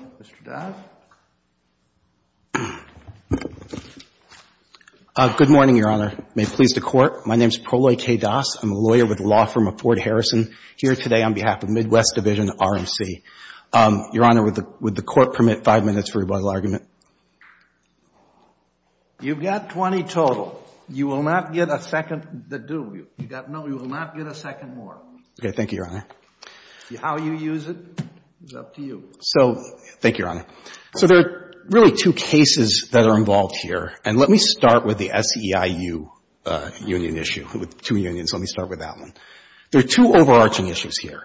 Mr. Doss? Good morning, Your Honor. May it please the Court, my name is Proloy K. Doss. I'm a lawyer with the law firm of Ford Harrison, here today on behalf of Midwest Division-RMC. Your Honor, would the Court permit five minutes for rebuttal argument? You've got 20 total. You will not get a second to do. No, you will not get a second more. OK, thank you, Your Honor. How you use it is up to you. So, thank you, Your Honor. So there are really two cases that are involved here. And let me start with the SEIU union issue, with two unions, let me start with that one. There are two overarching issues here.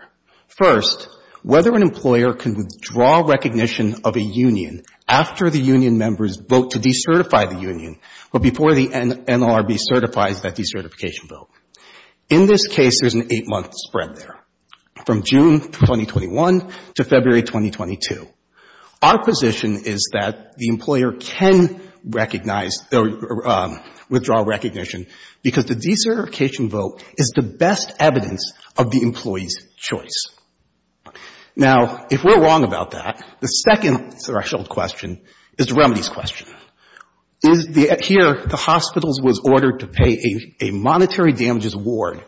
First, whether an employer can withdraw recognition of a union after the union members vote to decertify the union, but before the NLRB certifies that decertification vote. In this case, there's an eight month spread there. From June 2021 to February 2022. Our position is that the employer can recognize, or withdraw recognition, because the decertification vote is the best evidence of the employee's choice. Now, if we're wrong about that, the second threshold question is the remedies question. Here, the hospitals was ordered to pay a monetary damages award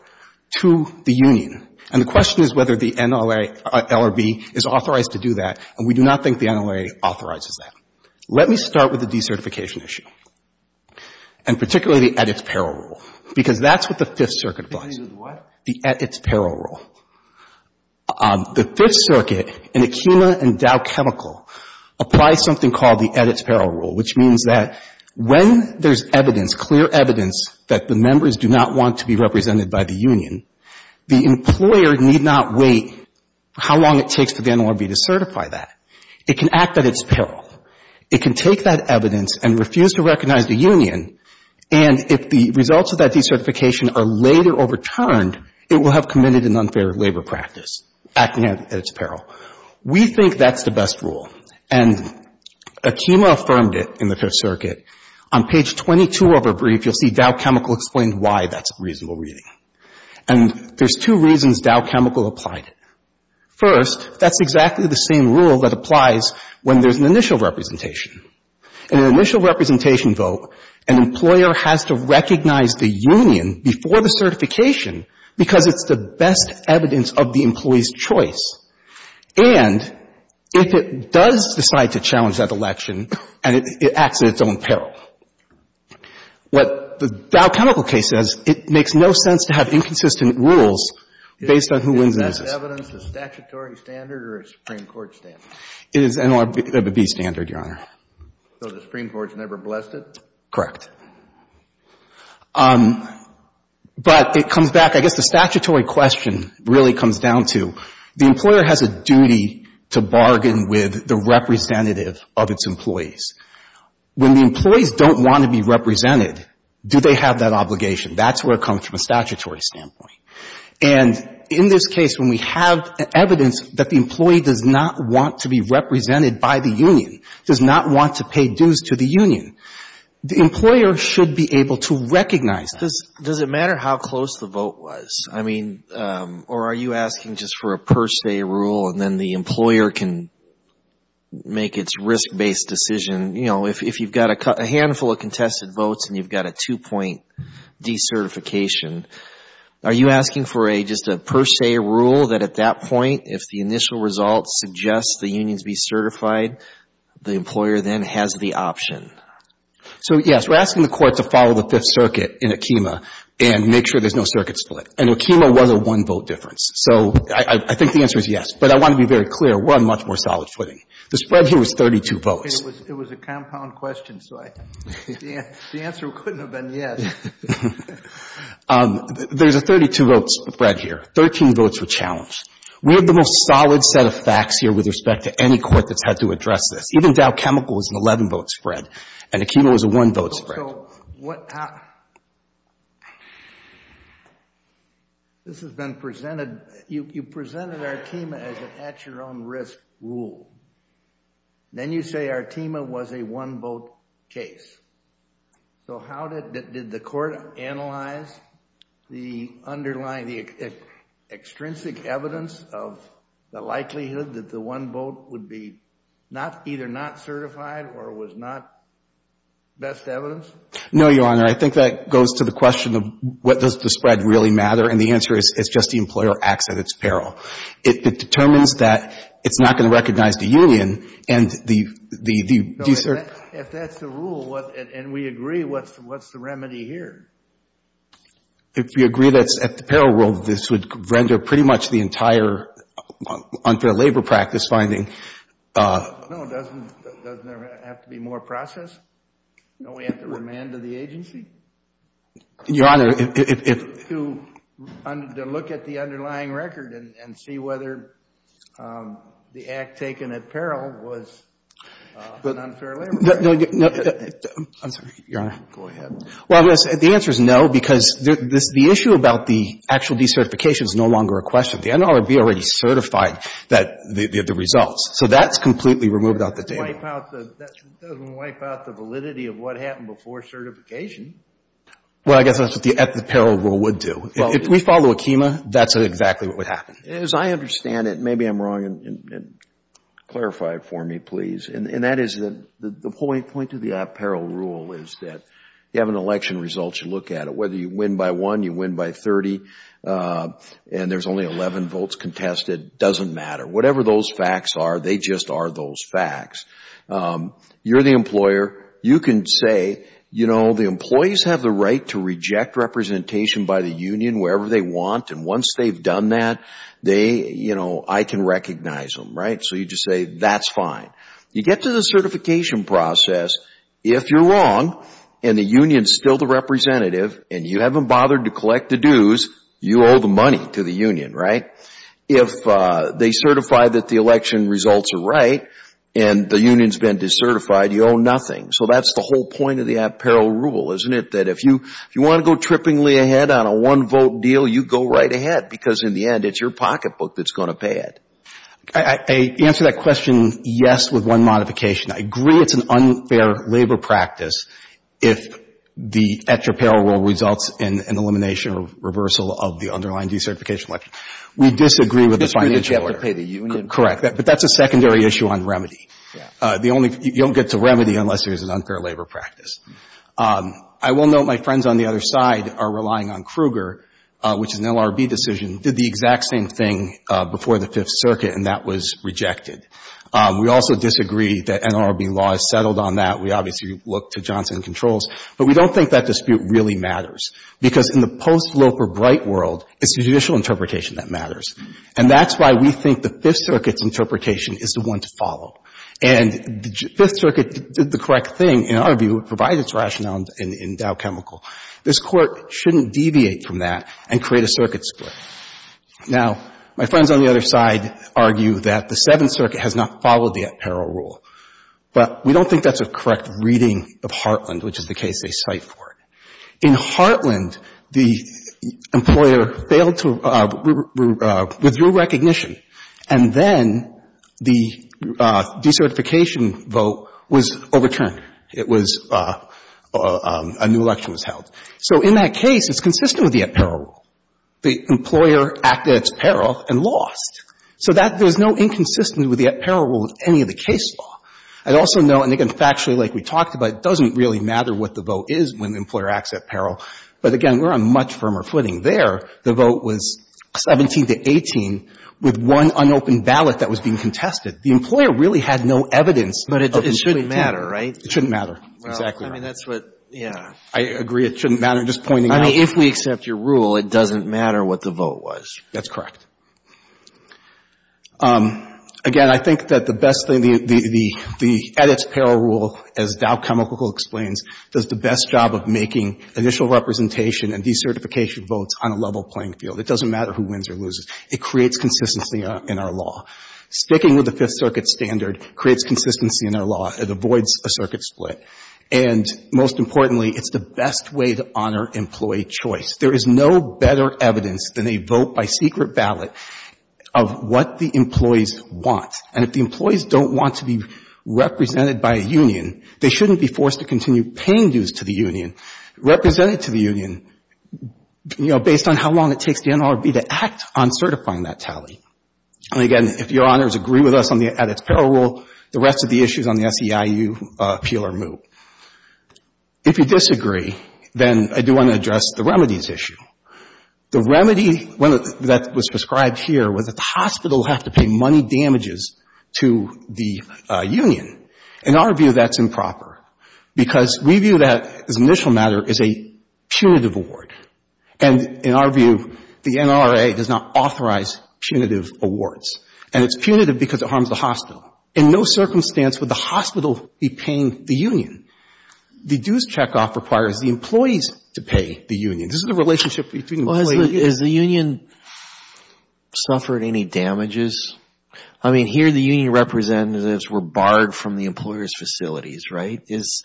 to the union. And the question is whether the NLRB is authorized to do that. And we do not think the NLRB authorizes that. Let me start with the decertification issue. And particularly, the at its peril rule. Because that's what the Fifth Circuit applies. The at its peril rule. The Fifth Circuit, in Akima and Dow Chemical, applies something called the at its peril rule, which means that when there's evidence, clear evidence that the members do not want to be represented by the union, the employer need not wait for how long it takes for the NLRB to certify that. It can act at its peril. It can take that evidence and refuse to recognize the union. And if the results of that decertification are later overturned, it will have committed an unfair labor practice, acting at its peril. We think that's the best rule. And Akima affirmed it in the Fifth Circuit. On page 22 of her brief, you'll see Dow Chemical explains why that's a reasonable reading. And there's two reasons Dow Chemical applied it. First, that's exactly the same rule that applies when there's an initial representation. In an initial representation vote, an employer has to recognize the union before the certification because it's the best evidence of the employee's choice. And if it does decide to challenge that election, and it acts at its own peril. What the Dow Chemical case says, it makes no sense to have inconsistent rules based on who wins and loses. Is that evidence a statutory standard or a Supreme Court standard? It is NLRB standard, Your Honor. So the Supreme Court's never blessed it? Correct. But it comes back, I guess the statutory question really comes down to the employer has a duty to bargain with the representative of its employees. When the employees don't want to be represented, do they have that obligation? That's where it comes from a statutory standpoint. And in this case, when we have evidence that the employee does not want to be represented by the union, does not want to pay dues to the union, the employer should be able to recognize that. Does it matter how close the vote was? I mean, or are you asking just for a per se rule and then the employer can make its risk-based decision? You know, if you've got a handful of contested votes and you've got a two-point decertification, are you asking for just a per se rule that at that point, if the initial result suggests the unions be certified, the employer then has the option? So, yes, we're asking the court to follow the Fifth Circuit in Akema and make sure there's no circuits split. And Akema was a one-vote difference. So I think the answer is yes. But I want to be very clear, we're on much more solid footing. The spread here was 32 votes. It was a compound question, so the answer couldn't have been yes. There's a 32-vote spread here. 13 votes were challenged. We had the most solid set of facts here with respect to any court that's had to address this. Even Dow Chemical was an 11-vote spread. And Akema was a one-vote spread. This has been presented, you presented Artema as an at-your-own-risk rule. Then you say Artema was a one-vote case. So how did the court analyze the underlying, the extrinsic evidence of the likelihood that the one vote would be either not certified or was not best evidence? No, Your Honor, I think that goes to the question of what does the spread really matter? And the answer is it's just the employer acts at its peril. It determines that it's not going to recognize the union and the... If that's the rule, and we agree, what's the remedy here? If you agree that's at the peril rule, this would render pretty much the entire unfair labor practice finding... No, doesn't there have to be more process? Don't we have to remand to the agency? Your Honor, if... To look at the underlying record and see whether the act taken at peril was an unfair labor practice. No, I'm sorry, Your Honor. Go ahead. Well, I'm going to say the answer is no because the issue about the actual decertification is no longer a question. The NLRB already certified the results. So that's completely removed out the table. It doesn't wipe out the validity of what happened before certification. Well, I guess that's what the at-the-peril rule would do. If we follow Akema, that's exactly what would happen. As I understand it, maybe I'm wrong, and clarify it for me, please. And that is the point of the at-peril rule is that you have an election result, you look at it. Whether you win by one, you win by 30, and there's only 11 votes contested, doesn't matter. Whatever those facts are, they just are those facts. You're the employer. You can say, you know, the employees have the right to reject representation by the union wherever they want, and once they've done that, they, you know, I can recognize them, right? So you just say, that's fine. You get to the certification process. If you're wrong, and the union's still the representative, and you haven't bothered to collect the dues, you owe the money to the union, right? If they certify that the election results are right, and the union's been decertified, you owe nothing. So that's the whole point of the at-peril rule, isn't it? That if you want to go trippingly ahead on a one-vote deal, you go right ahead, because in the end, it's your pocketbook that's going to pay it. I answer that question, yes, with one modification. I agree it's an unfair labor practice if the at-your-peril rule results in an elimination or reversal of the underlying decertification election. We disagree with the financial order. Because you have to pay the union. Correct, but that's a secondary issue on remedy. The only, you don't get to remedy unless there's an unfair labor practice. I will note my friends on the other side are relying on Kruger, which is an LRB decision, did the exact same thing before the Fifth Circuit, and that was rejected. We also disagree that an LRB law is settled on that. We obviously look to Johnson & Controls. But we don't think that dispute really matters, because in the post-Loper-Bright world, it's judicial interpretation that matters. And that's why we think the Fifth Circuit's interpretation is the one to follow. And the Fifth Circuit did the correct thing, in our view, to provide its rationale in Dow Chemical. This Court shouldn't deviate from that and create a circuit split. Now, my friends on the other side argue that the Seventh Circuit has not followed the at-peril rule. But we don't think that's a correct reading of Heartland, which is the case they cite for it. In Heartland, the employer failed to — withdrew recognition. And then the decertification vote was overturned. It was — a new election was held. So in that case, it's consistent with the at-peril rule. The employer acted at its peril and lost. So that — there's no inconsistency with the at-peril rule in any of the case law. I'd also note, and again, factually, like we talked about, it doesn't really matter what the vote is when the employer acts at peril. But again, we're on much firmer footing there. The vote was 17 to 18, with one unopened ballot that was being contested. The employer really had no evidence of — Robertson But it shouldn't matter, right? It shouldn't matter. Exactly right. Alito I mean, that's what — yeah. Roberts I agree. It shouldn't matter. Just pointing out — Alito I mean, if we accept your rule, it doesn't matter what the vote was. Roberts That's correct. Again, I think that the best thing — the at-its-peril rule, as Dow Chemical explains, does the best job of making initial representation and decertification votes on a level playing field. It doesn't matter who wins or loses. It creates consistency in our law. Sticking with the Fifth Circuit standard creates consistency in our law. It avoids a circuit split. And most importantly, it's the best way to honor employee choice. There is no better evidence than a vote by secret ballot of what the employees want. And if the employees don't want to be represented by a union, they shouldn't be forced to continue paying dues to the union, represented to the union, you know, based on how long it takes the NLRB to act on certifying that tally. And again, if Your Honors agree with us on the at-its-peril rule, the rest of the issues on the SEIU appeal are moot. If you disagree, then I do want to address the remedies issue. The remedy that was prescribed here was that the hospital would have to pay money damages to the union. In our view, that's improper, because we view that as an initial matter as a punitive award. And in our view, the NRA does not authorize punitive awards. And it's punitive because it harms the hospital. In no circumstance would the hospital be paying the union. The dues checkoff requires the employees to pay the union. This is the relationship between the employees. Well, has the union suffered any damages? I mean, here the union representatives were barred from the employer's facilities, right? Is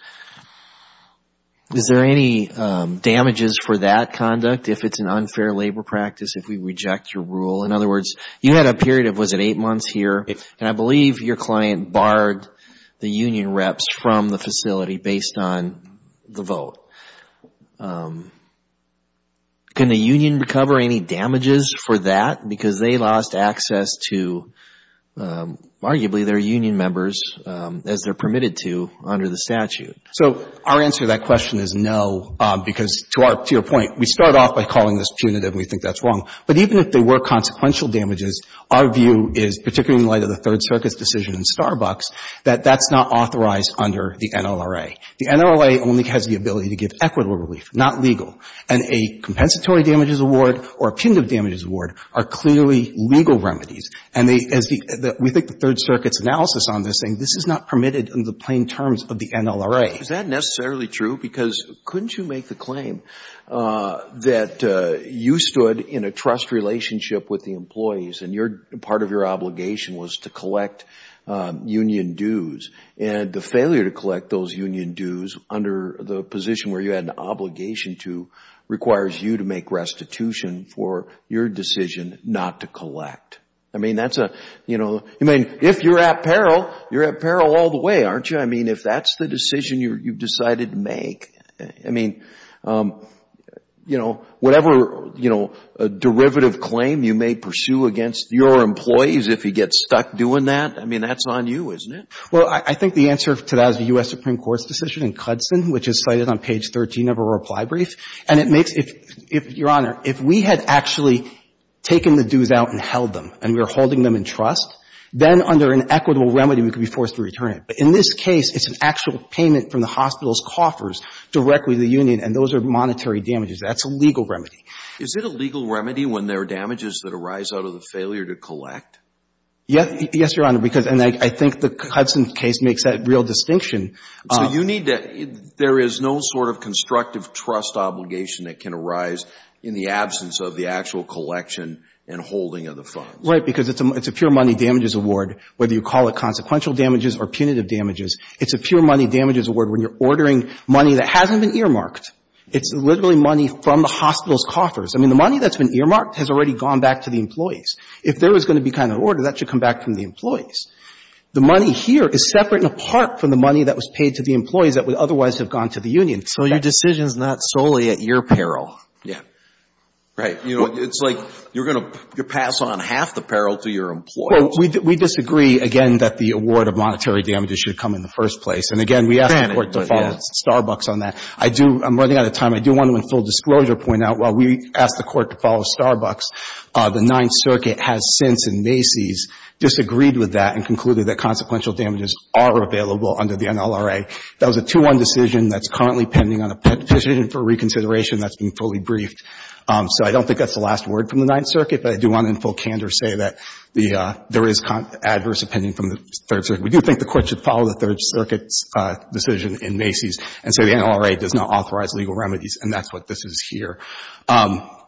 there any damages for that conduct if it's an unfair labor practice, if we reject your rule? In other words, you had a period of, was it eight months here? And I believe your client barred the union reps from the facility based on the vote. Can the union recover any damages for that? Because they lost access to, arguably, their union members as they're permitted to under the statute. So our answer to that question is no, because to your point, we start off by calling this punitive and we think that's wrong. But even if they were consequential damages, our view is, particularly in light of the Third Circuit's decision in Starbucks, that that's not authorized under the NLRA. The NLRA only has the ability to give equitable relief, not legal. And a compensatory damages award or a punitive damages award are clearly legal remedies. And they, as the, we think the Third Circuit's analysis on this saying this is not permitted in the plain terms of the NLRA. Is that necessarily true? Because couldn't you make the claim that you stood in a trust relationship with the employees and part of your obligation was to collect union dues and the failure to collect those union dues under the position where you had an obligation to requires you to make restitution for your decision not to collect. I mean, that's a, you know, I mean, if you're at peril, you're at peril all the way, aren't you? I mean, if that's the decision you've decided to make, I mean, you know, whatever, you know, a derivative claim you may pursue against your employees if you get stuck doing that, I mean, that's on you, isn't it? Well, I think the answer to that is the U.S. Supreme Court's decision in Cudson, which is cited on page 13 of her reply brief. And it makes, if, Your Honor, if we had actually taken the dues out and held them and we were holding them in trust, then under an equitable remedy, we could be forced to return it. In this case, it's an actual payment from the hospital's coffers directly to the union, and those are monetary damages. That's a legal remedy. Is it a legal remedy when there are damages that arise out of the failure to collect? Yes, Your Honor, because, and I think the Cudson case makes that real distinction. So you need to, there is no sort of constructive trust obligation that can arise in the absence of the actual collection and holding of the funds. Right, because it's a pure money damages award, whether you call it consequential damages or punitive damages, it's a pure money damages award when you're ordering money that hasn't been earmarked. It's literally money from the hospital's coffers. I mean, the money that's been earmarked has already gone back to the employees. If there was going to be kind of an order, that should come back from the employees. The money here is separate and apart from the money that was paid to the employees that would otherwise have gone to the union. So your decision is not solely at your peril. Yeah. Right. You know, it's like you're going to pass on half the peril to your employees. Well, we disagree, again, that the award of monetary damages should come in the first place. And again, we asked the Court to follow Starbucks on that. I do, I'm running out of time. I do want to, in full disclosure, point out while we asked the Court to follow Starbucks, the Ninth Circuit has since, in Macy's, disagreed with that and concluded that consequential damages are available under the NLRA. That was a 2-1 decision that's currently pending on a petition for reconsideration that's been fully briefed. So I don't think that's the last word from the Ninth Circuit. But I do want to, in full candor, say that the, there is adverse opinion from the Third Circuit. We do think the Court should follow the Third Circuit's decision in Macy's and say the NLRA does not authorize legal remedies, and that's what this is here.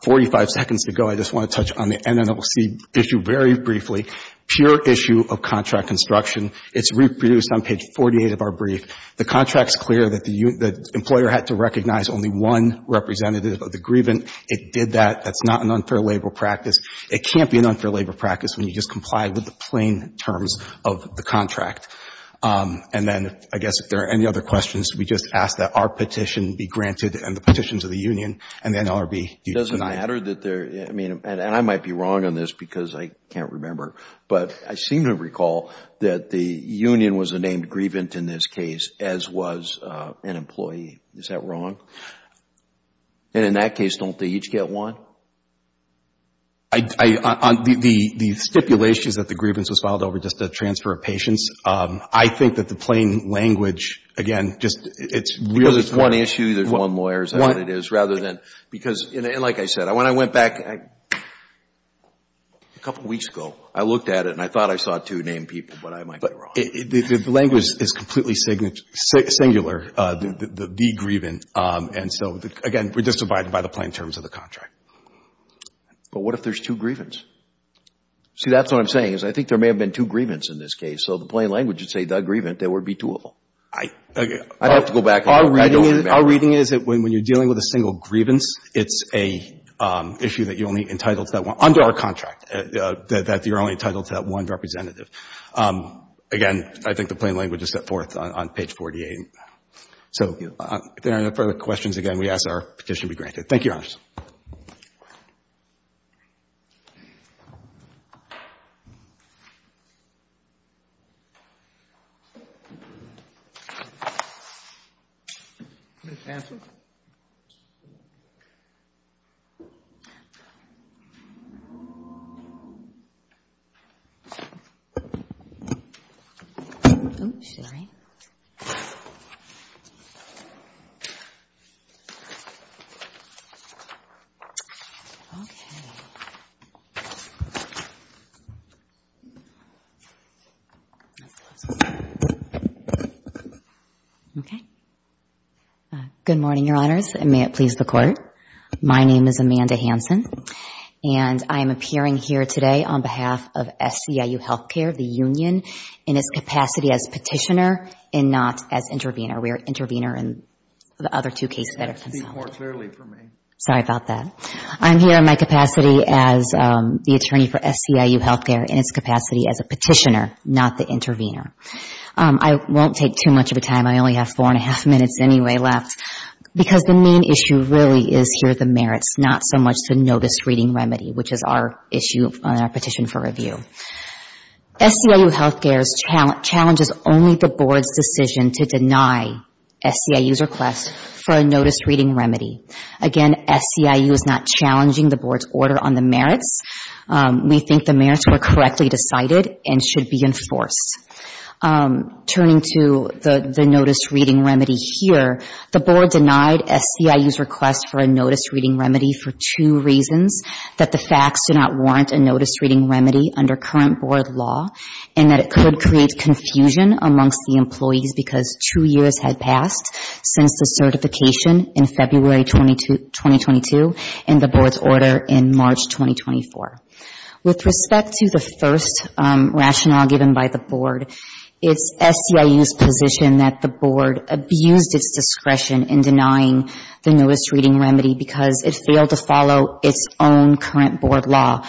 Forty-five seconds to go. I just want to touch on the NNLC issue very briefly. Pure issue of contract construction. It's reproduced on page 48 of our brief. The contract's clear that the employer had to recognize only one representative of the grievant. It did that. That's not an unfair labor practice. It can't be an unfair labor practice when you just comply with the plain terms of the contract. And then, I guess, if there are any other questions, we just ask that our petition be granted and the petitions of the union and the NLRB. Doesn't matter that there, I mean, and I might be wrong on this because I can't remember, but I seem to recall that the union was named grievant in this case, as was an employee. Is that wrong? And in that case, don't they each get one? The stipulations that the grievance was filed over just a transfer of patience, I think that the plain language, again, just it's really... Because it's one issue, there's one lawyer, is that what it is? Rather than, because, like I said, when I went back a couple weeks ago, I looked at it and I thought I saw two named people, but I might be wrong. The language is completely singular, the grievant. And so, again, we're just divided by the plain terms of the contract. But what if there's two grievants? See, that's what I'm saying is I think there may have been two grievants in this case. So the plain language would say the grievant, there would be two of them. I'd have to go back and look. Our reading is that when you're dealing with a single grievance, it's an issue that you're only entitled to that one, under our contract, that you're only entitled to that one representative. Again, I think the plain language is set forth on page 48. So if there are no further questions, again, we ask that our petition be granted. Thank you, Your Honors. Print pamphlet? Oops, sorry. Good morning, Your Honors, and may it please the Court. My name is Amanda Hanson, and I am appearing here today on behalf of SEIU Health Care, the union, in its capacity as petitioner and not as intervener. We are intervener in the other two cases that have been solved. Speak more clearly for me. Sorry about that. I am here in my capacity as the attorney for SEIU Health Care in its capacity as a petitioner, not the intervener. I won't take too much of a time. I only have four and a half minutes anyway left, because the main issue really is here the merits, not so much to know this reading remedy, which is our issue on our petition for review. SEIU Health Care challenges only the Board's decision to deny SEIU's request for a notice reading remedy. Again, SEIU is not challenging the Board's order on the merits. We think the merits were correctly decided and should be enforced. Turning to the notice reading remedy here, the Board denied SEIU's request for a notice reading remedy under current Board law and that it could create confusion amongst the employees because two years had passed since the certification in February 2022 and the Board's order in March 2024. With respect to the first rationale given by the Board, it's SEIU's position that the Board abused its discretion in denying the notice reading remedy because it failed to follow its own current Board law.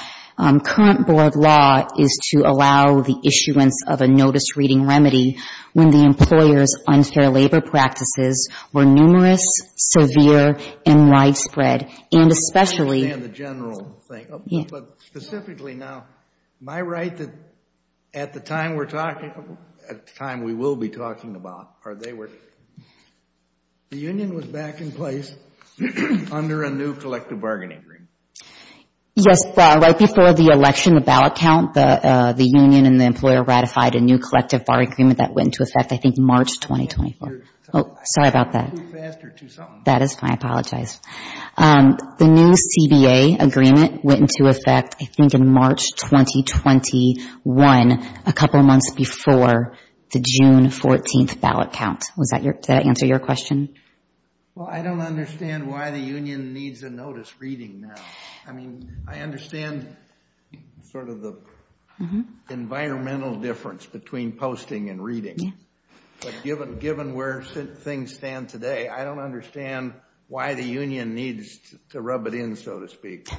Current Board law is to allow the issuance of a notice reading remedy when the employer's unfair labor practices were numerous, severe, and widespread, and especially I understand the general thing, but specifically now, am I right that at the time we're talking, at the time we will be talking about, the union was back in place under a new collective bargaining agreement? Yes. Right before the election, the ballot count, the union and the employer ratified a new collective bargaining agreement that went into effect, I think, March 2024. Sorry about that. I'm moving faster to something. That is fine. I apologize. The new CBA agreement went into effect, I think, in March 2021, a couple of months before the June 14th ballot count. Does that answer your question? Well, I don't understand why the union needs a notice reading now. I mean, I understand sort of the environmental difference between posting and reading, but given where things stand today, I don't understand why the union needs to rub it in, so to speak.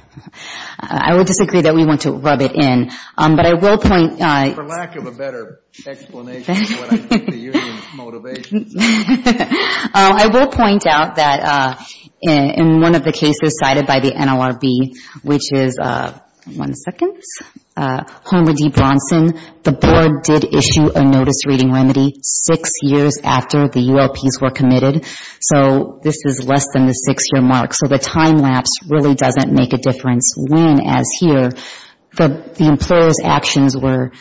I would disagree that we want to rub it in, but I will point out... For lack of a better explanation of what I think the union's motivation is. I will point out that in one of the cases cited by the NLRB, which is... One second. Homer D. Bronson, the board did issue a notice reading remedy six years after the ULPs were committed, so this is less than the six-year mark, so the time lapse really doesn't make a difference. When, as here, the employer's actions were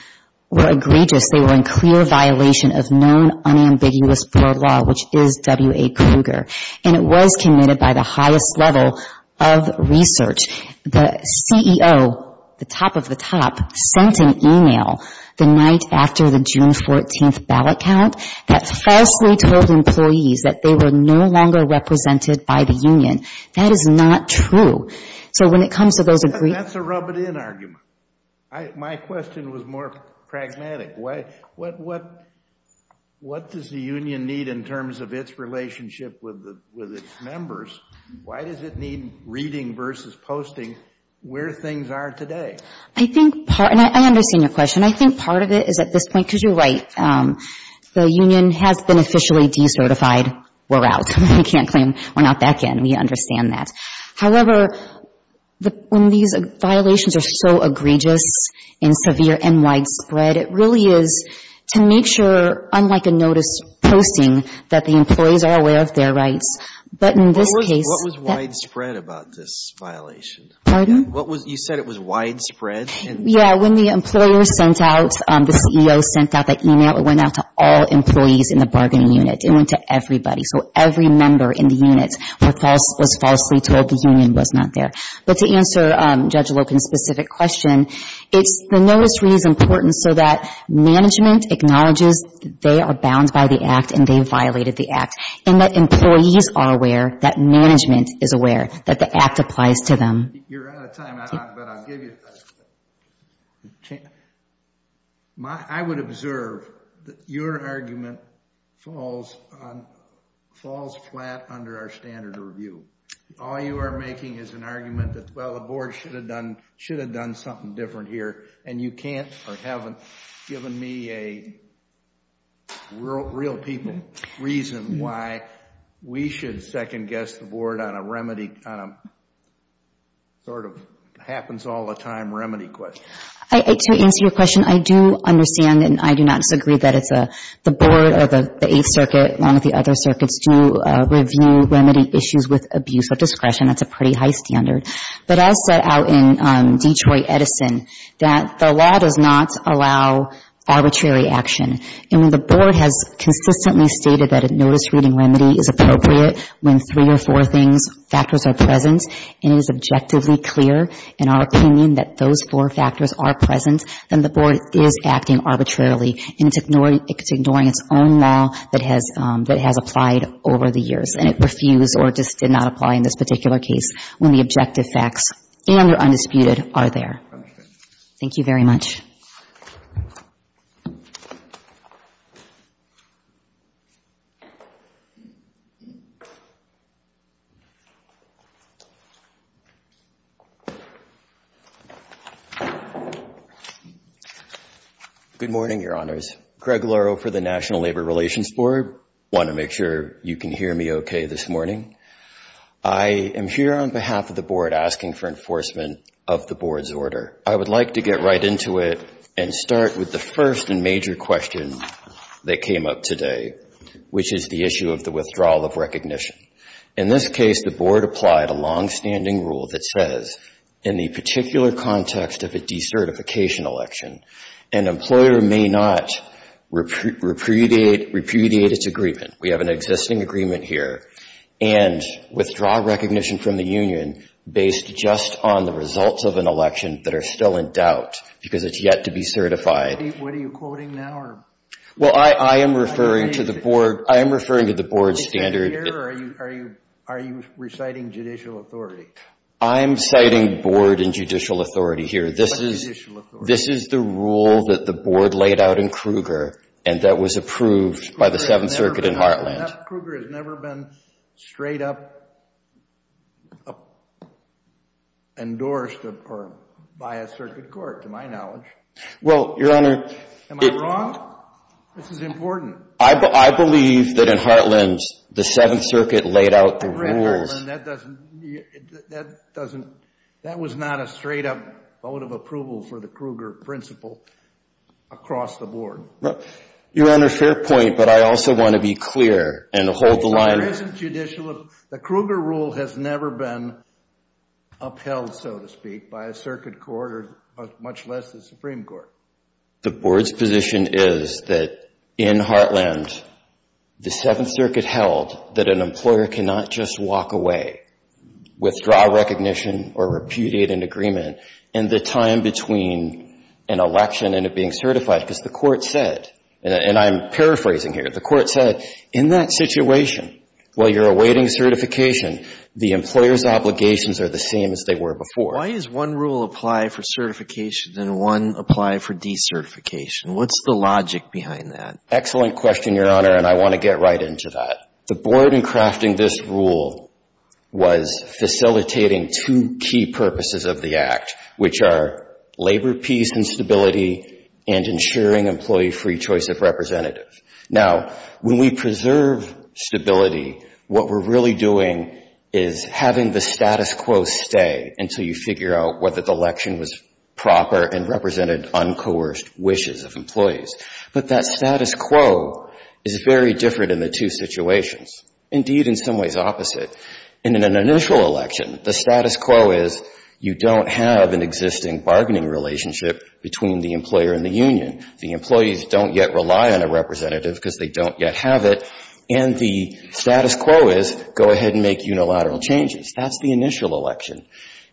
egregious, they were in clear violation of the known unambiguous board law, which is W.A. Kruger, and it was committed by the highest level of research. The CEO, the top of the top, sent an email the night after the June 14th ballot count that falsely told employees that they were no longer represented by the union. That is not true. So when it comes to those... That's a rub it in argument. My question was more pragmatic. What does the union need in terms of its relationship with its members? Why does it need reading versus posting where things are today? I think part... And I understand your question. I think part of it is at this point, because you're right, the union has been officially decertified. We're out. We can't claim we're not back in. We understand that. However, when these violations are so egregious and severe and widespread, it really is to make sure, unlike a notice posting, that the employees are aware of their rights. But in this case... What was widespread about this violation? Pardon? You said it was widespread? Yeah, when the employer sent out, the CEO sent out that email, it went out to all employees in the bargaining unit. It went to everybody. So every member in the unit was falsely told the union was not there. But to answer Judge Loken's specific question, the notice reading is important so that management acknowledges they are bound by the act and they violated the act. And that employees are aware that management is aware that the act applies to them. You're out of time, but I'll give you... I would observe that your argument falls flat under our standard of review. All you are making is an argument that, well, the board should have done something different here, and you can't or haven't given me a real people reason why we should second-guess the board on a sort of happens all the time remedy question. To answer your question, I do understand and I do not disagree that the board or the Eighth Circuit, along with the other circuits, do review remedy issues with abuse of discretion. That's a pretty high standard. But I'll set out in Detroit Edison that the law does not allow arbitrary action. And the board has consistently stated that a notice reading remedy is appropriate when three or four factors are present, and it is objectively clear in our opinion that those four factors are present, then the board is acting arbitrarily and it's ignoring its own law that has applied over the years. And it refused or just did not apply in this particular case when the objective facts, and they're undisputed, are there. Thank you very much. Good morning, Your Honors. Greg Laro for the National Labor Relations Board. Want to make sure you can hear me okay this morning. I am here on behalf of the board asking for enforcement of the board's order. I would like to get right into it and start with the first and major question that came up today, which is the issue of the withdrawal of recognition. In this case, the board applied a longstanding rule that says in the particular context of a decertification election, an employer may not repudiate its agreement. We have an existing agreement here. And withdraw recognition from the union based just on the results of an election that are still in doubt because it's yet to be certified. What are you quoting now? Well, I am referring to the board standard. Are you reciting judicial authority? I am citing board and judicial authority here. This is the rule that the board laid out in Kruger and that was approved by the Seventh Circuit in Heartland. Kruger has never been straight up endorsed by a circuit court, to my knowledge. Am I wrong? This is important. I believe that in Heartland, the Seventh Circuit laid out the rules. That was not a straight up vote of approval for the Kruger principle across the board. Your Honor, fair point, but I also want to be clear and hold the line. The Kruger rule has never been upheld, so to speak, by a circuit court, much less the Supreme Court. The board's position is that in Heartland, the Seventh Circuit held that an employer cannot just walk away, withdraw recognition or repudiate an agreement in the time between an election and it being certified because the court said, and I'm paraphrasing here, the court said, in that situation, while you're awaiting certification, the employer's obligations are the same as they were before. Why does one rule apply for certification and one apply for decertification? What's the logic behind that? Excellent question, Your Honor, and I want to get right into that. The board in crafting this rule was facilitating two key purposes of the Act, which are labor peace and stability and ensuring employee-free choice of representative. Now, when we preserve stability, what we're really doing is having the status quo stay until you figure out whether the election was proper and represented uncoerced wishes of employees. But that status quo is very different in the two situations, indeed in some ways opposite. In an initial election, the status quo is you don't have an existing bargaining relationship between the employer and the union. The employees don't yet rely on a representative because they don't yet have it, and the status quo is go ahead and make unilateral changes. That's the initial election.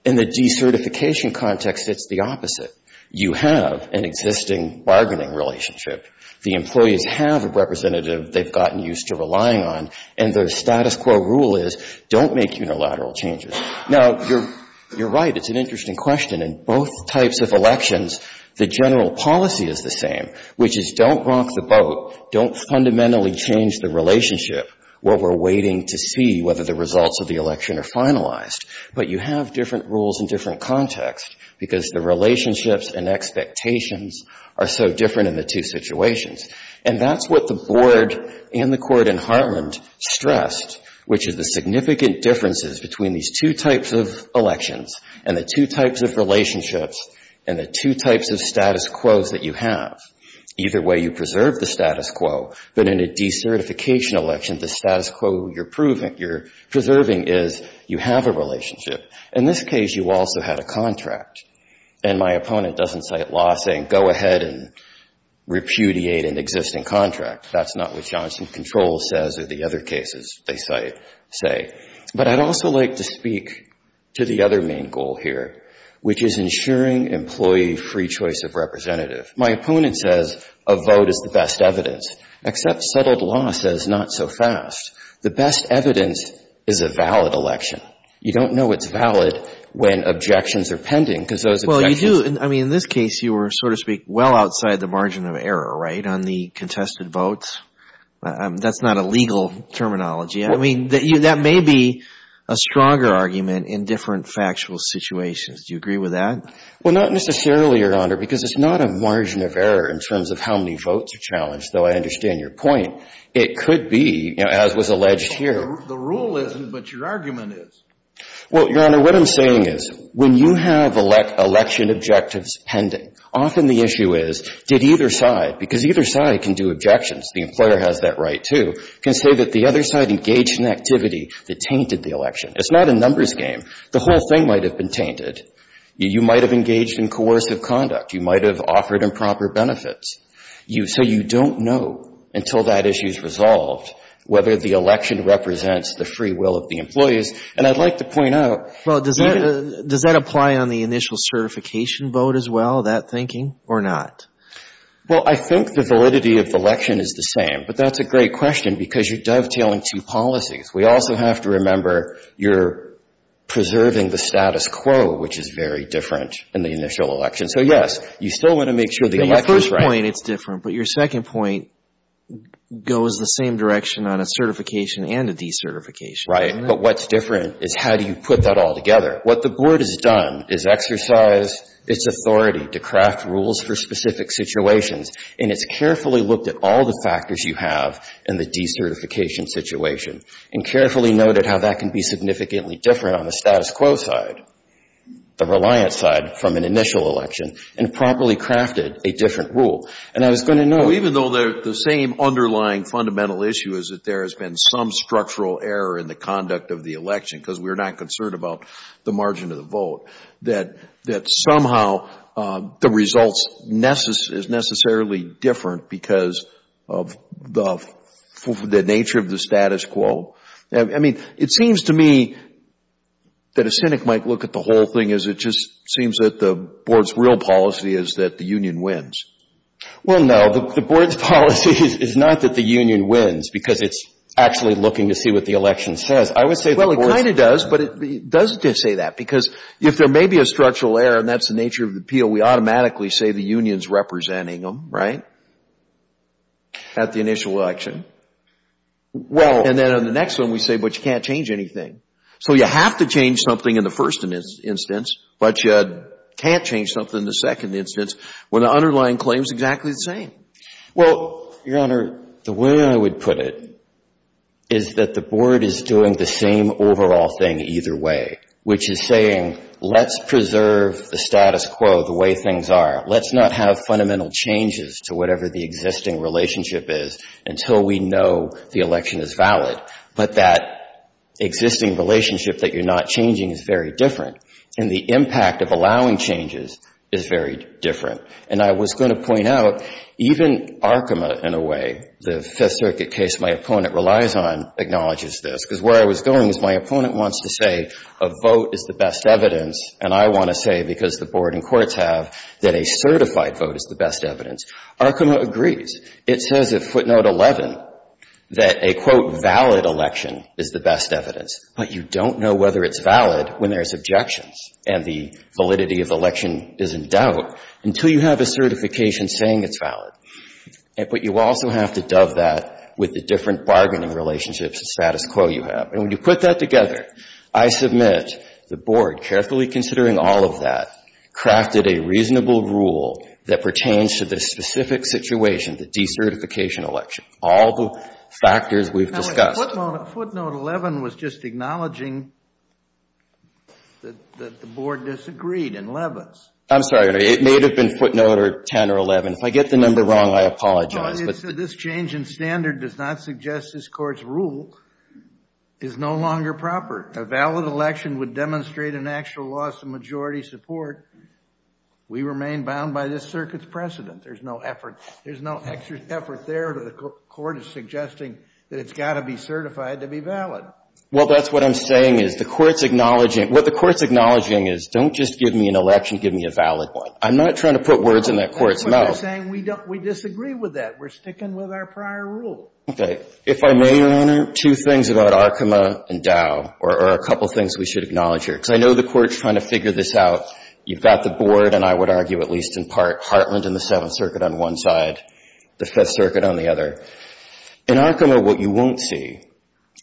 In the decertification context, it's the opposite. You have an existing bargaining relationship. The employees have a representative they've gotten used to relying on, and their status quo rule is don't make unilateral changes. Now, you're right. It's an interesting question. In both types of elections, the general policy is the same, which is don't rock the boat, don't fundamentally change the relationship. What we're waiting to see, whether the results of the election are finalized. But you have different rules in different contexts because the relationships and expectations are so different in the two situations. And that's what the Board and the Court in Heartland stressed, which is the significant differences between these two types of elections and the two types of relationships and the two types of status quos that you have. Either way, you preserve the status quo. But in a decertification election, the status quo you're proving, you're preserving is you have a relationship. In this case, you also had a contract. And my opponent doesn't cite law saying go ahead and repudiate an existing contract. That's not what Johnson Controls says or the other cases they say. But I'd also like to speak to the other main goal here, which is ensuring employee free choice of representative. My opponent says a vote is the best evidence, except settled law says not so fast. The best evidence is a valid election. You don't know it's valid when objections are pending because those objections Well, you do. I mean, in this case, you were, so to speak, well outside the margin of error, right, on the contested votes? That's not a legal terminology. I mean, that may be a stronger argument in different factual situations. Do you agree with that? Well, not necessarily, Your Honor, because it's not a margin of error in terms of how many votes are challenged, though I understand your point. It could be, you know, as was alleged here. The rule isn't, but your argument is. Well, Your Honor, what I'm saying is when you have election objectives pending, often the issue is did either side, because either side can do objections, the employer has that right, too, can say that the other side engaged in activity that tainted the election. It's not a numbers game. The whole thing might have been tainted. You might have engaged in coercive conduct. You might have offered improper benefits. So you don't know until that issue is resolved whether the election represents the free will of the employees. And I'd like to point out Well, does that apply on the initial certification vote as well, that thinking, or not? Well, I think the validity of the election is the same, but that's a great question because you're dovetailing two policies. We also have to remember you're preserving the status quo, which is very different in the initial election. So, yes, you still want to make sure the election is right. Your first point, it's different, but your second point goes the same direction on a certification and a decertification. Right. But what's different is how do you put that all together? What the Board has done is exercised its authority to craft rules for specific situations, and it's carefully looked at all the factors you have in the decertification situation. And carefully noted how that can be significantly different on the status quo side, the reliance side from an initial election, and properly crafted a different rule. And I was going to note Well, even though the same underlying fundamental issue is that there has been some structural error in the conduct of the election, because we're not concerned about the margin of the vote, that somehow the results is necessarily different because of the nature of the status quo. I mean, it seems to me that a cynic might look at the whole thing as it just seems that the Board's real policy is that the union wins. Well, no, the Board's policy is not that the union wins because it's actually looking to see what the election says. Well, it kind of does, but it does say that because if there may be a structural error, and that's the nature of the appeal, we automatically say the union's not representing them, right, at the initial election. Well And then on the next one we say, but you can't change anything. So you have to change something in the first instance, but you can't change something in the second instance when the underlying claim is exactly the same. Well, Your Honor, the way I would put it is that the Board is doing the same overall thing either way, which is saying let's preserve the status quo the way things are. Let's not have fundamental changes to whatever the existing relationship is until we know the election is valid. But that existing relationship that you're not changing is very different. And the impact of allowing changes is very different. And I was going to point out, even Arkema, in a way, the Fifth Circuit case my opponent relies on, acknowledges this. Because where I was going was my opponent wants to say a vote is the best evidence, and I want to say, because the Board and courts have, that a certified vote is the best evidence. Arkema agrees. It says at footnote 11 that a, quote, valid election is the best evidence. But you don't know whether it's valid when there's objections and the validity of the election is in doubt until you have a certification saying it's valid. But you also have to dove that with the different bargaining relationships and status quo you have. And when you put that together, I submit the Board, carefully considering all of that, crafted a reasonable rule that pertains to the specific situation, the decertification election, all the factors we've discussed. Footnote 11 was just acknowledging that the Board disagreed in Leavitt's. I'm sorry. It may have been footnote 10 or 11. If I get the number wrong, I apologize. This change in standard does not suggest this Court's rule. It's no longer proper. A valid election would demonstrate an actual loss of majority support. We remain bound by this circuit's precedent. There's no effort. There's no extra effort there. The Court is suggesting that it's got to be certified to be valid. Well, that's what I'm saying is the Court's acknowledging, what the Court's acknowledging is don't just give me an election, give me a valid one. I'm not trying to put words in that Court's mouth. That's what we're saying. We disagree with that. We're sticking with our prior rule. Okay. If I may, Your Honor, two things about Arkema and Dow are a couple things we should acknowledge here, because I know the Court's trying to figure this out. You've got the Board, and I would argue at least in part Hartland and the Seventh Circuit on one side, the Fifth Circuit on the other. In Arkema, what you won't see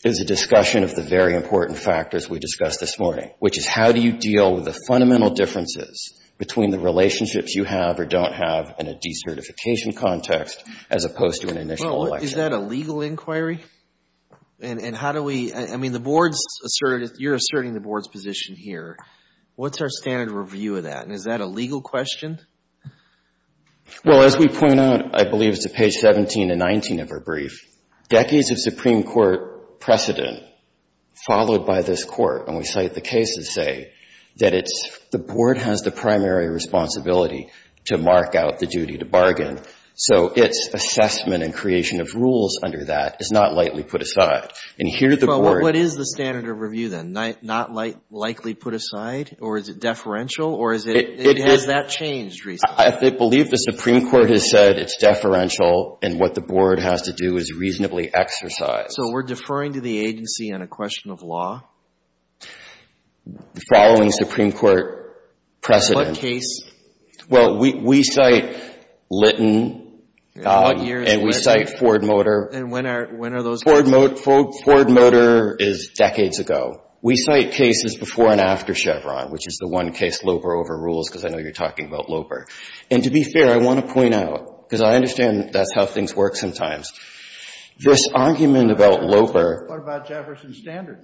is a discussion of the very important factors we discussed this morning, which is how do you deal with the fundamental differences between the relationships you have or don't have in a decertification context as opposed to an initial election? Is that a legal inquiry? And how do we, I mean, the Board's asserted, you're asserting the Board's position here. What's our standard review of that, and is that a legal question? Well, as we point out, I believe it's at page 17 and 19 of our brief, decades of Supreme Court precedent followed by this Court, and we cite the cases say that it's, the Board has the primary responsibility to mark out the duty to bargain. So its assessment and creation of rules under that is not lightly put aside. And here the Board Well, what is the standard of review, then? Not lightly put aside, or is it deferential, or has that changed recently? I believe the Supreme Court has said it's deferential, and what the Board has to do is reasonably exercise. So we're deferring to the agency on a question of law? Following Supreme Court precedent What case? Well, we cite Litton and we cite Ford Motor. And when are those cases? Ford Motor is decades ago. We cite cases before and after Chevron, which is the one case Loper overrules, because I know you're talking about Loper. And to be fair, I want to point out, because I understand that's how things work sometimes, this argument about Loper What about Jefferson Standard?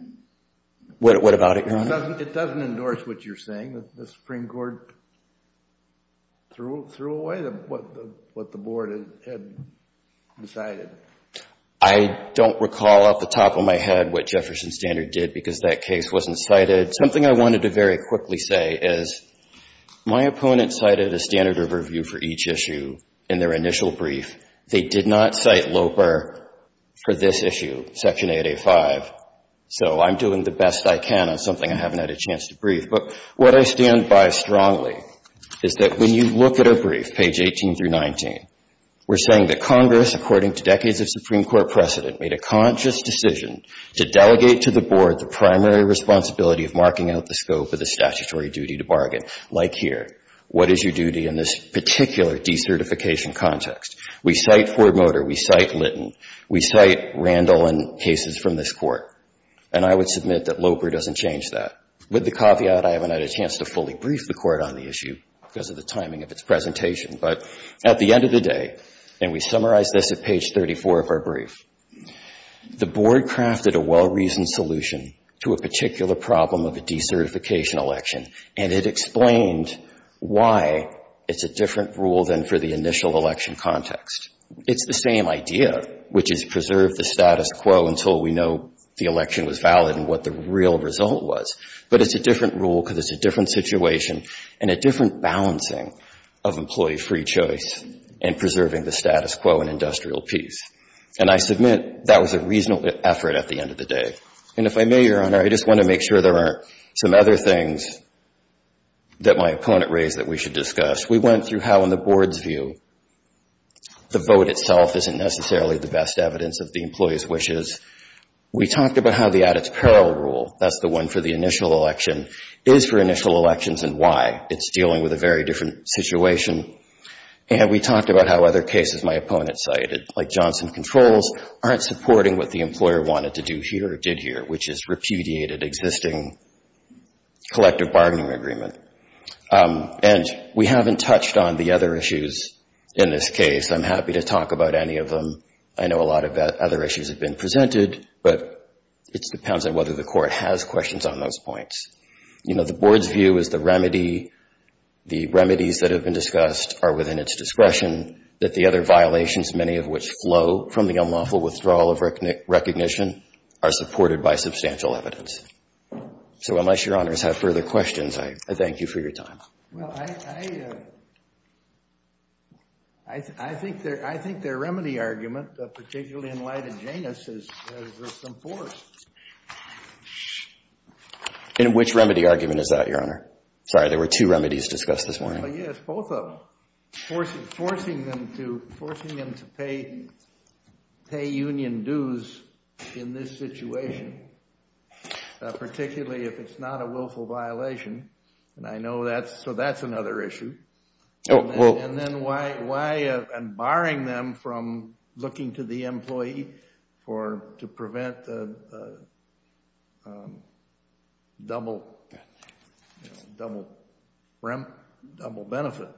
What about it, Your Honor? It doesn't endorse what you're saying. The Supreme Court threw away what the Board had decided. I don't recall off the top of my head what Jefferson Standard did, because that case wasn't cited. Something I wanted to very quickly say is my opponent cited a standard of review for each issue in their initial brief. They did not cite Loper for this issue, Section 8A.5. So I'm doing the best I can on something I haven't had a chance to brief. But what I stand by strongly is that when you look at a brief, page 18 through 19, we're saying that Congress, according to decades of Supreme Court precedent, made a conscious decision to delegate to the Board the primary responsibility of marking out the scope of the statutory duty to bargain, like here. What is your duty in this particular decertification context? We cite Ford Motor. We cite Litton. We cite Randall and cases from this Court. And I would submit that Loper doesn't change that. With the caveat, I haven't had a chance to fully brief the Court on the issue because of the timing of its presentation. But at the end of the day, and we summarize this at page 34 of our brief, the Board crafted a well-reasoned solution to a particular problem of a decertification election, and it explained why it's a different rule than for the initial election context. It's the same idea, which is preserve the status quo until we know the election was valid and what the real result was. But it's a different rule because it's a different situation and a different balancing of employee free choice and preserving the status quo in industrial peace. And I submit that was a reasonable effort at the end of the day. And if I may, Your Honor, I just want to make sure there aren't some other things that my opponent raised that we should discuss. We went through how, in the Board's view, the vote itself isn't necessarily the best evidence of the employee's wishes. We talked about how the at-its-peril rule, that's the one for the initial election, is for initial elections and why. It's dealing with a very different situation. And we talked about how other cases my opponent cited, like Johnson Controls, aren't supporting what the employer wanted to do here or did here, which is repudiated existing collective bargaining agreement. And we haven't touched on the other issues in this case. I'm happy to talk about any of them. I know a lot of other issues have been presented, but it depends on whether the Court has questions on those points. You know, the Board's view is the remedy, the remedies that have been discussed are within its discretion, that the other violations, many of which flow from the unlawful withdrawal of recognition, are supported by substantial evidence. So unless Your Honors have further questions, I thank you for your time. Well, I think their remedy argument, particularly in light of Janus, is there's some force. In which remedy argument is that, Your Honor? Sorry, there were two remedies discussed this morning. Yes, both of them, forcing them to pay union dues in this situation. Particularly if it's not a willful violation. And I know that's, so that's another issue. Oh, well. And then why, and barring them from looking to the employee for, to prevent the double, you know, double benefit.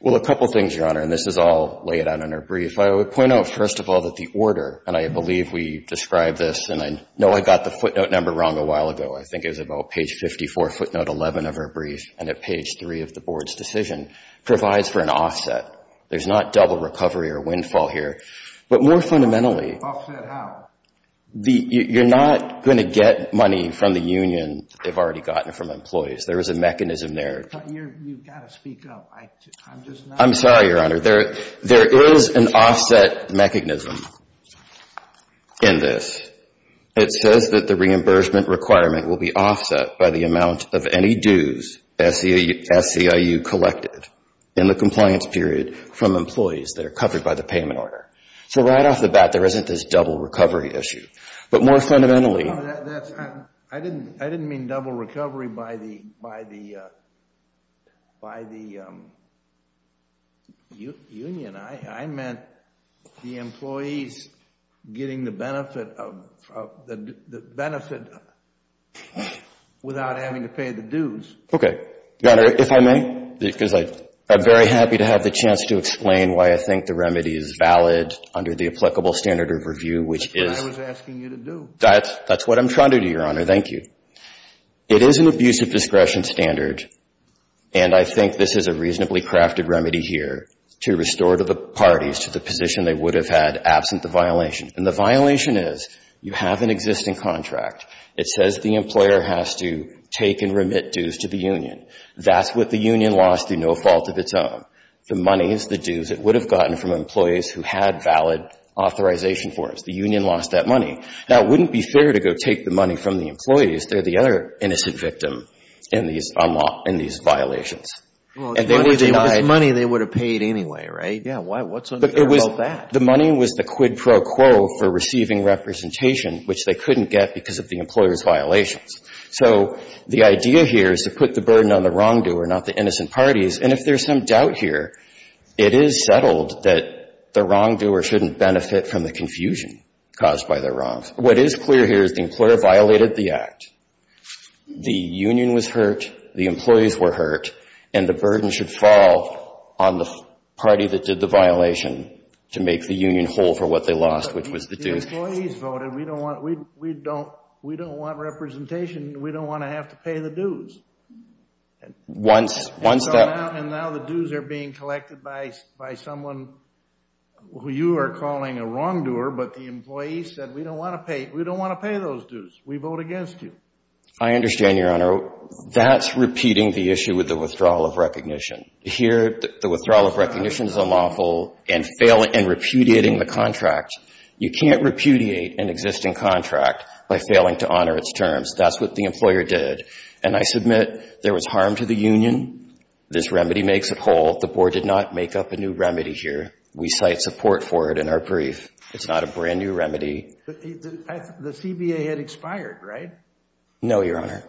Well, a couple things, Your Honor, and this is all laid out in our brief. I would point out, first of all, that the order, and I believe we described this and I know I got the footnote number wrong a while ago. I think it was about page 54, footnote 11 of our brief, and at page 3 of the Board's decision, provides for an offset. There's not double recovery or windfall here. But more fundamentally. Offset how? You're not going to get money from the union that they've already gotten from employees. There is a mechanism there. You've got to speak up. I'm just not. I'm sorry, Your Honor. There is an offset mechanism in this. It says that the reimbursement requirement will be offset by the amount of any dues SCIU collected in the compliance period from employees that are covered by the payment order. So right off the bat, there isn't this double recovery issue. But more fundamentally. I didn't mean double recovery by the union. I meant the employees getting the benefit without having to pay the dues. Okay. Your Honor, if I may, because I'm very happy to have the chance to explain why I think the remedy is valid under the applicable standard of review, which is. That's what I was asking you to do. That's what I'm trying to do, Your Honor. Thank you. It is an abusive discretion standard. And I think this is a reasonably crafted remedy here to restore to the parties to the position they would have had absent the violation. And the violation is you have an existing contract. It says the employer has to take and remit dues to the union. That's what the union lost through no fault of its own. The money is the dues it would have gotten from employees who had valid authorization forms. The union lost that money. Now, it wouldn't be fair to go take the money from the employees. They're the other innocent victim in these violations. And they would have denied. Well, it's money they would have paid anyway, right? Yeah. What's unfair about that? The money was the quid pro quo for receiving representation, which they couldn't get because of the employer's violations. So the idea here is to put the burden on the wrongdoer, not the innocent parties. And if there's some doubt here, it is settled that the wrongdoer shouldn't benefit from the confusion caused by their wrongs. What is clear here is the employer violated the Act. The union was hurt. The employees were hurt. And the burden should fall on the party that did the violation to make the union whole for what they lost, which was the dues. But the employees voted. We don't want representation. We don't want to have to pay the dues. And so now the dues are being collected by someone who you are calling a wrongdoer. But the employee said, we don't want to pay. We don't want to pay those dues. We vote against you. I understand, Your Honor. That's repeating the issue with the withdrawal of recognition. Here, the withdrawal of recognition is unlawful and repudiating the contract. You can't repudiate an existing contract by failing to honor its terms. That's what the employer did. And I submit there was harm to the union. This remedy makes it whole. The Board did not make up a new remedy here. We cite support for it in our brief. It's not a brand new remedy. The CBA had expired, right? No, Your Honor.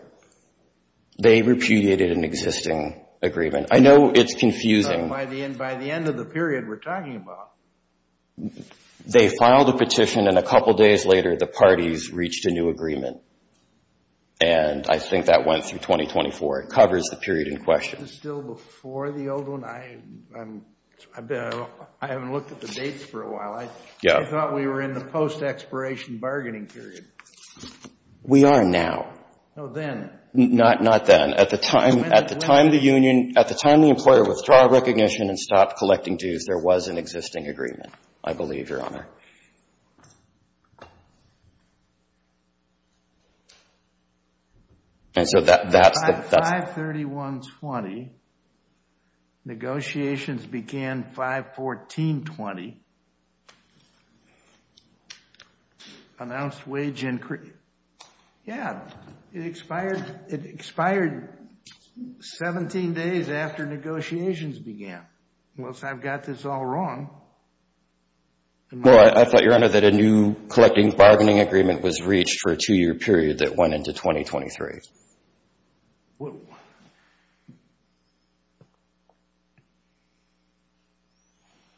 They repudiated an existing agreement. I know it's confusing. By the end of the period we're talking about. They filed a petition, and a couple days later, the parties reached a new agreement. And I think that went through 2024. It covers the period in question. Is this still before the old one? I haven't looked at the dates for a while. I thought we were in the post-expiration bargaining period. We are now. No, then. Not then. At the time the employer withdrew our recognition and stopped collecting dues, there was an existing agreement, I believe, Your Honor. 5-31-20. Negotiations began 5-14-20. Announced wage increase. Yeah. It expired 17 days after negotiations began. Unless I've got this all wrong. Go ahead. Well, I thought, Your Honor, that a new collecting bargaining agreement was reached for a two-year period that went into 2023.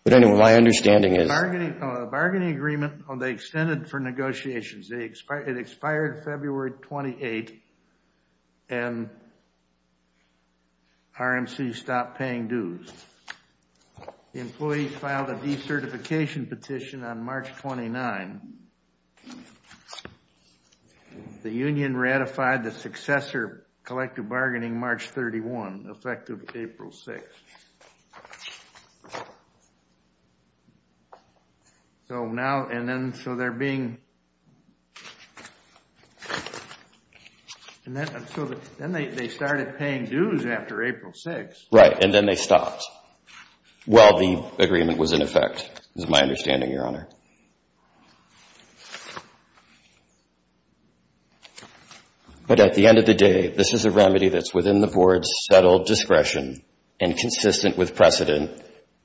But anyway, my understanding is the bargaining agreement, they extended for negotiations. It expired February 28, and RMC stopped paying dues. The employees filed a decertification petition on March 29. The union ratified the successor collective bargaining March 31, effective April 6. So now, and then, so they're being, so then they started paying dues after April 6. Right, and then they stopped while the agreement was in effect, is my understanding, Your Honor. But at the end of the day, this is a remedy that's within the Board's settled discretion and consistent with precedent,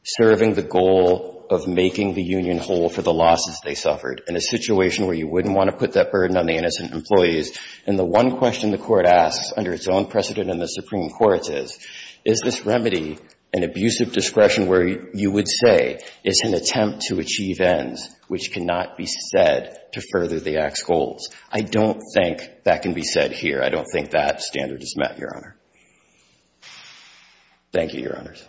serving the goal of making the union whole for the losses they suffered in a situation where you wouldn't want to put that burden on the innocent employees. And the one question the Court asks, under its own precedent in the Supreme Court, is, is this remedy an abusive discretion where you would say it's an attempt to achieve ends which cannot be said to further the Act's goals? I don't think that can be said here. I don't think that standard is met, Your Honor. Thank you, Your Honors.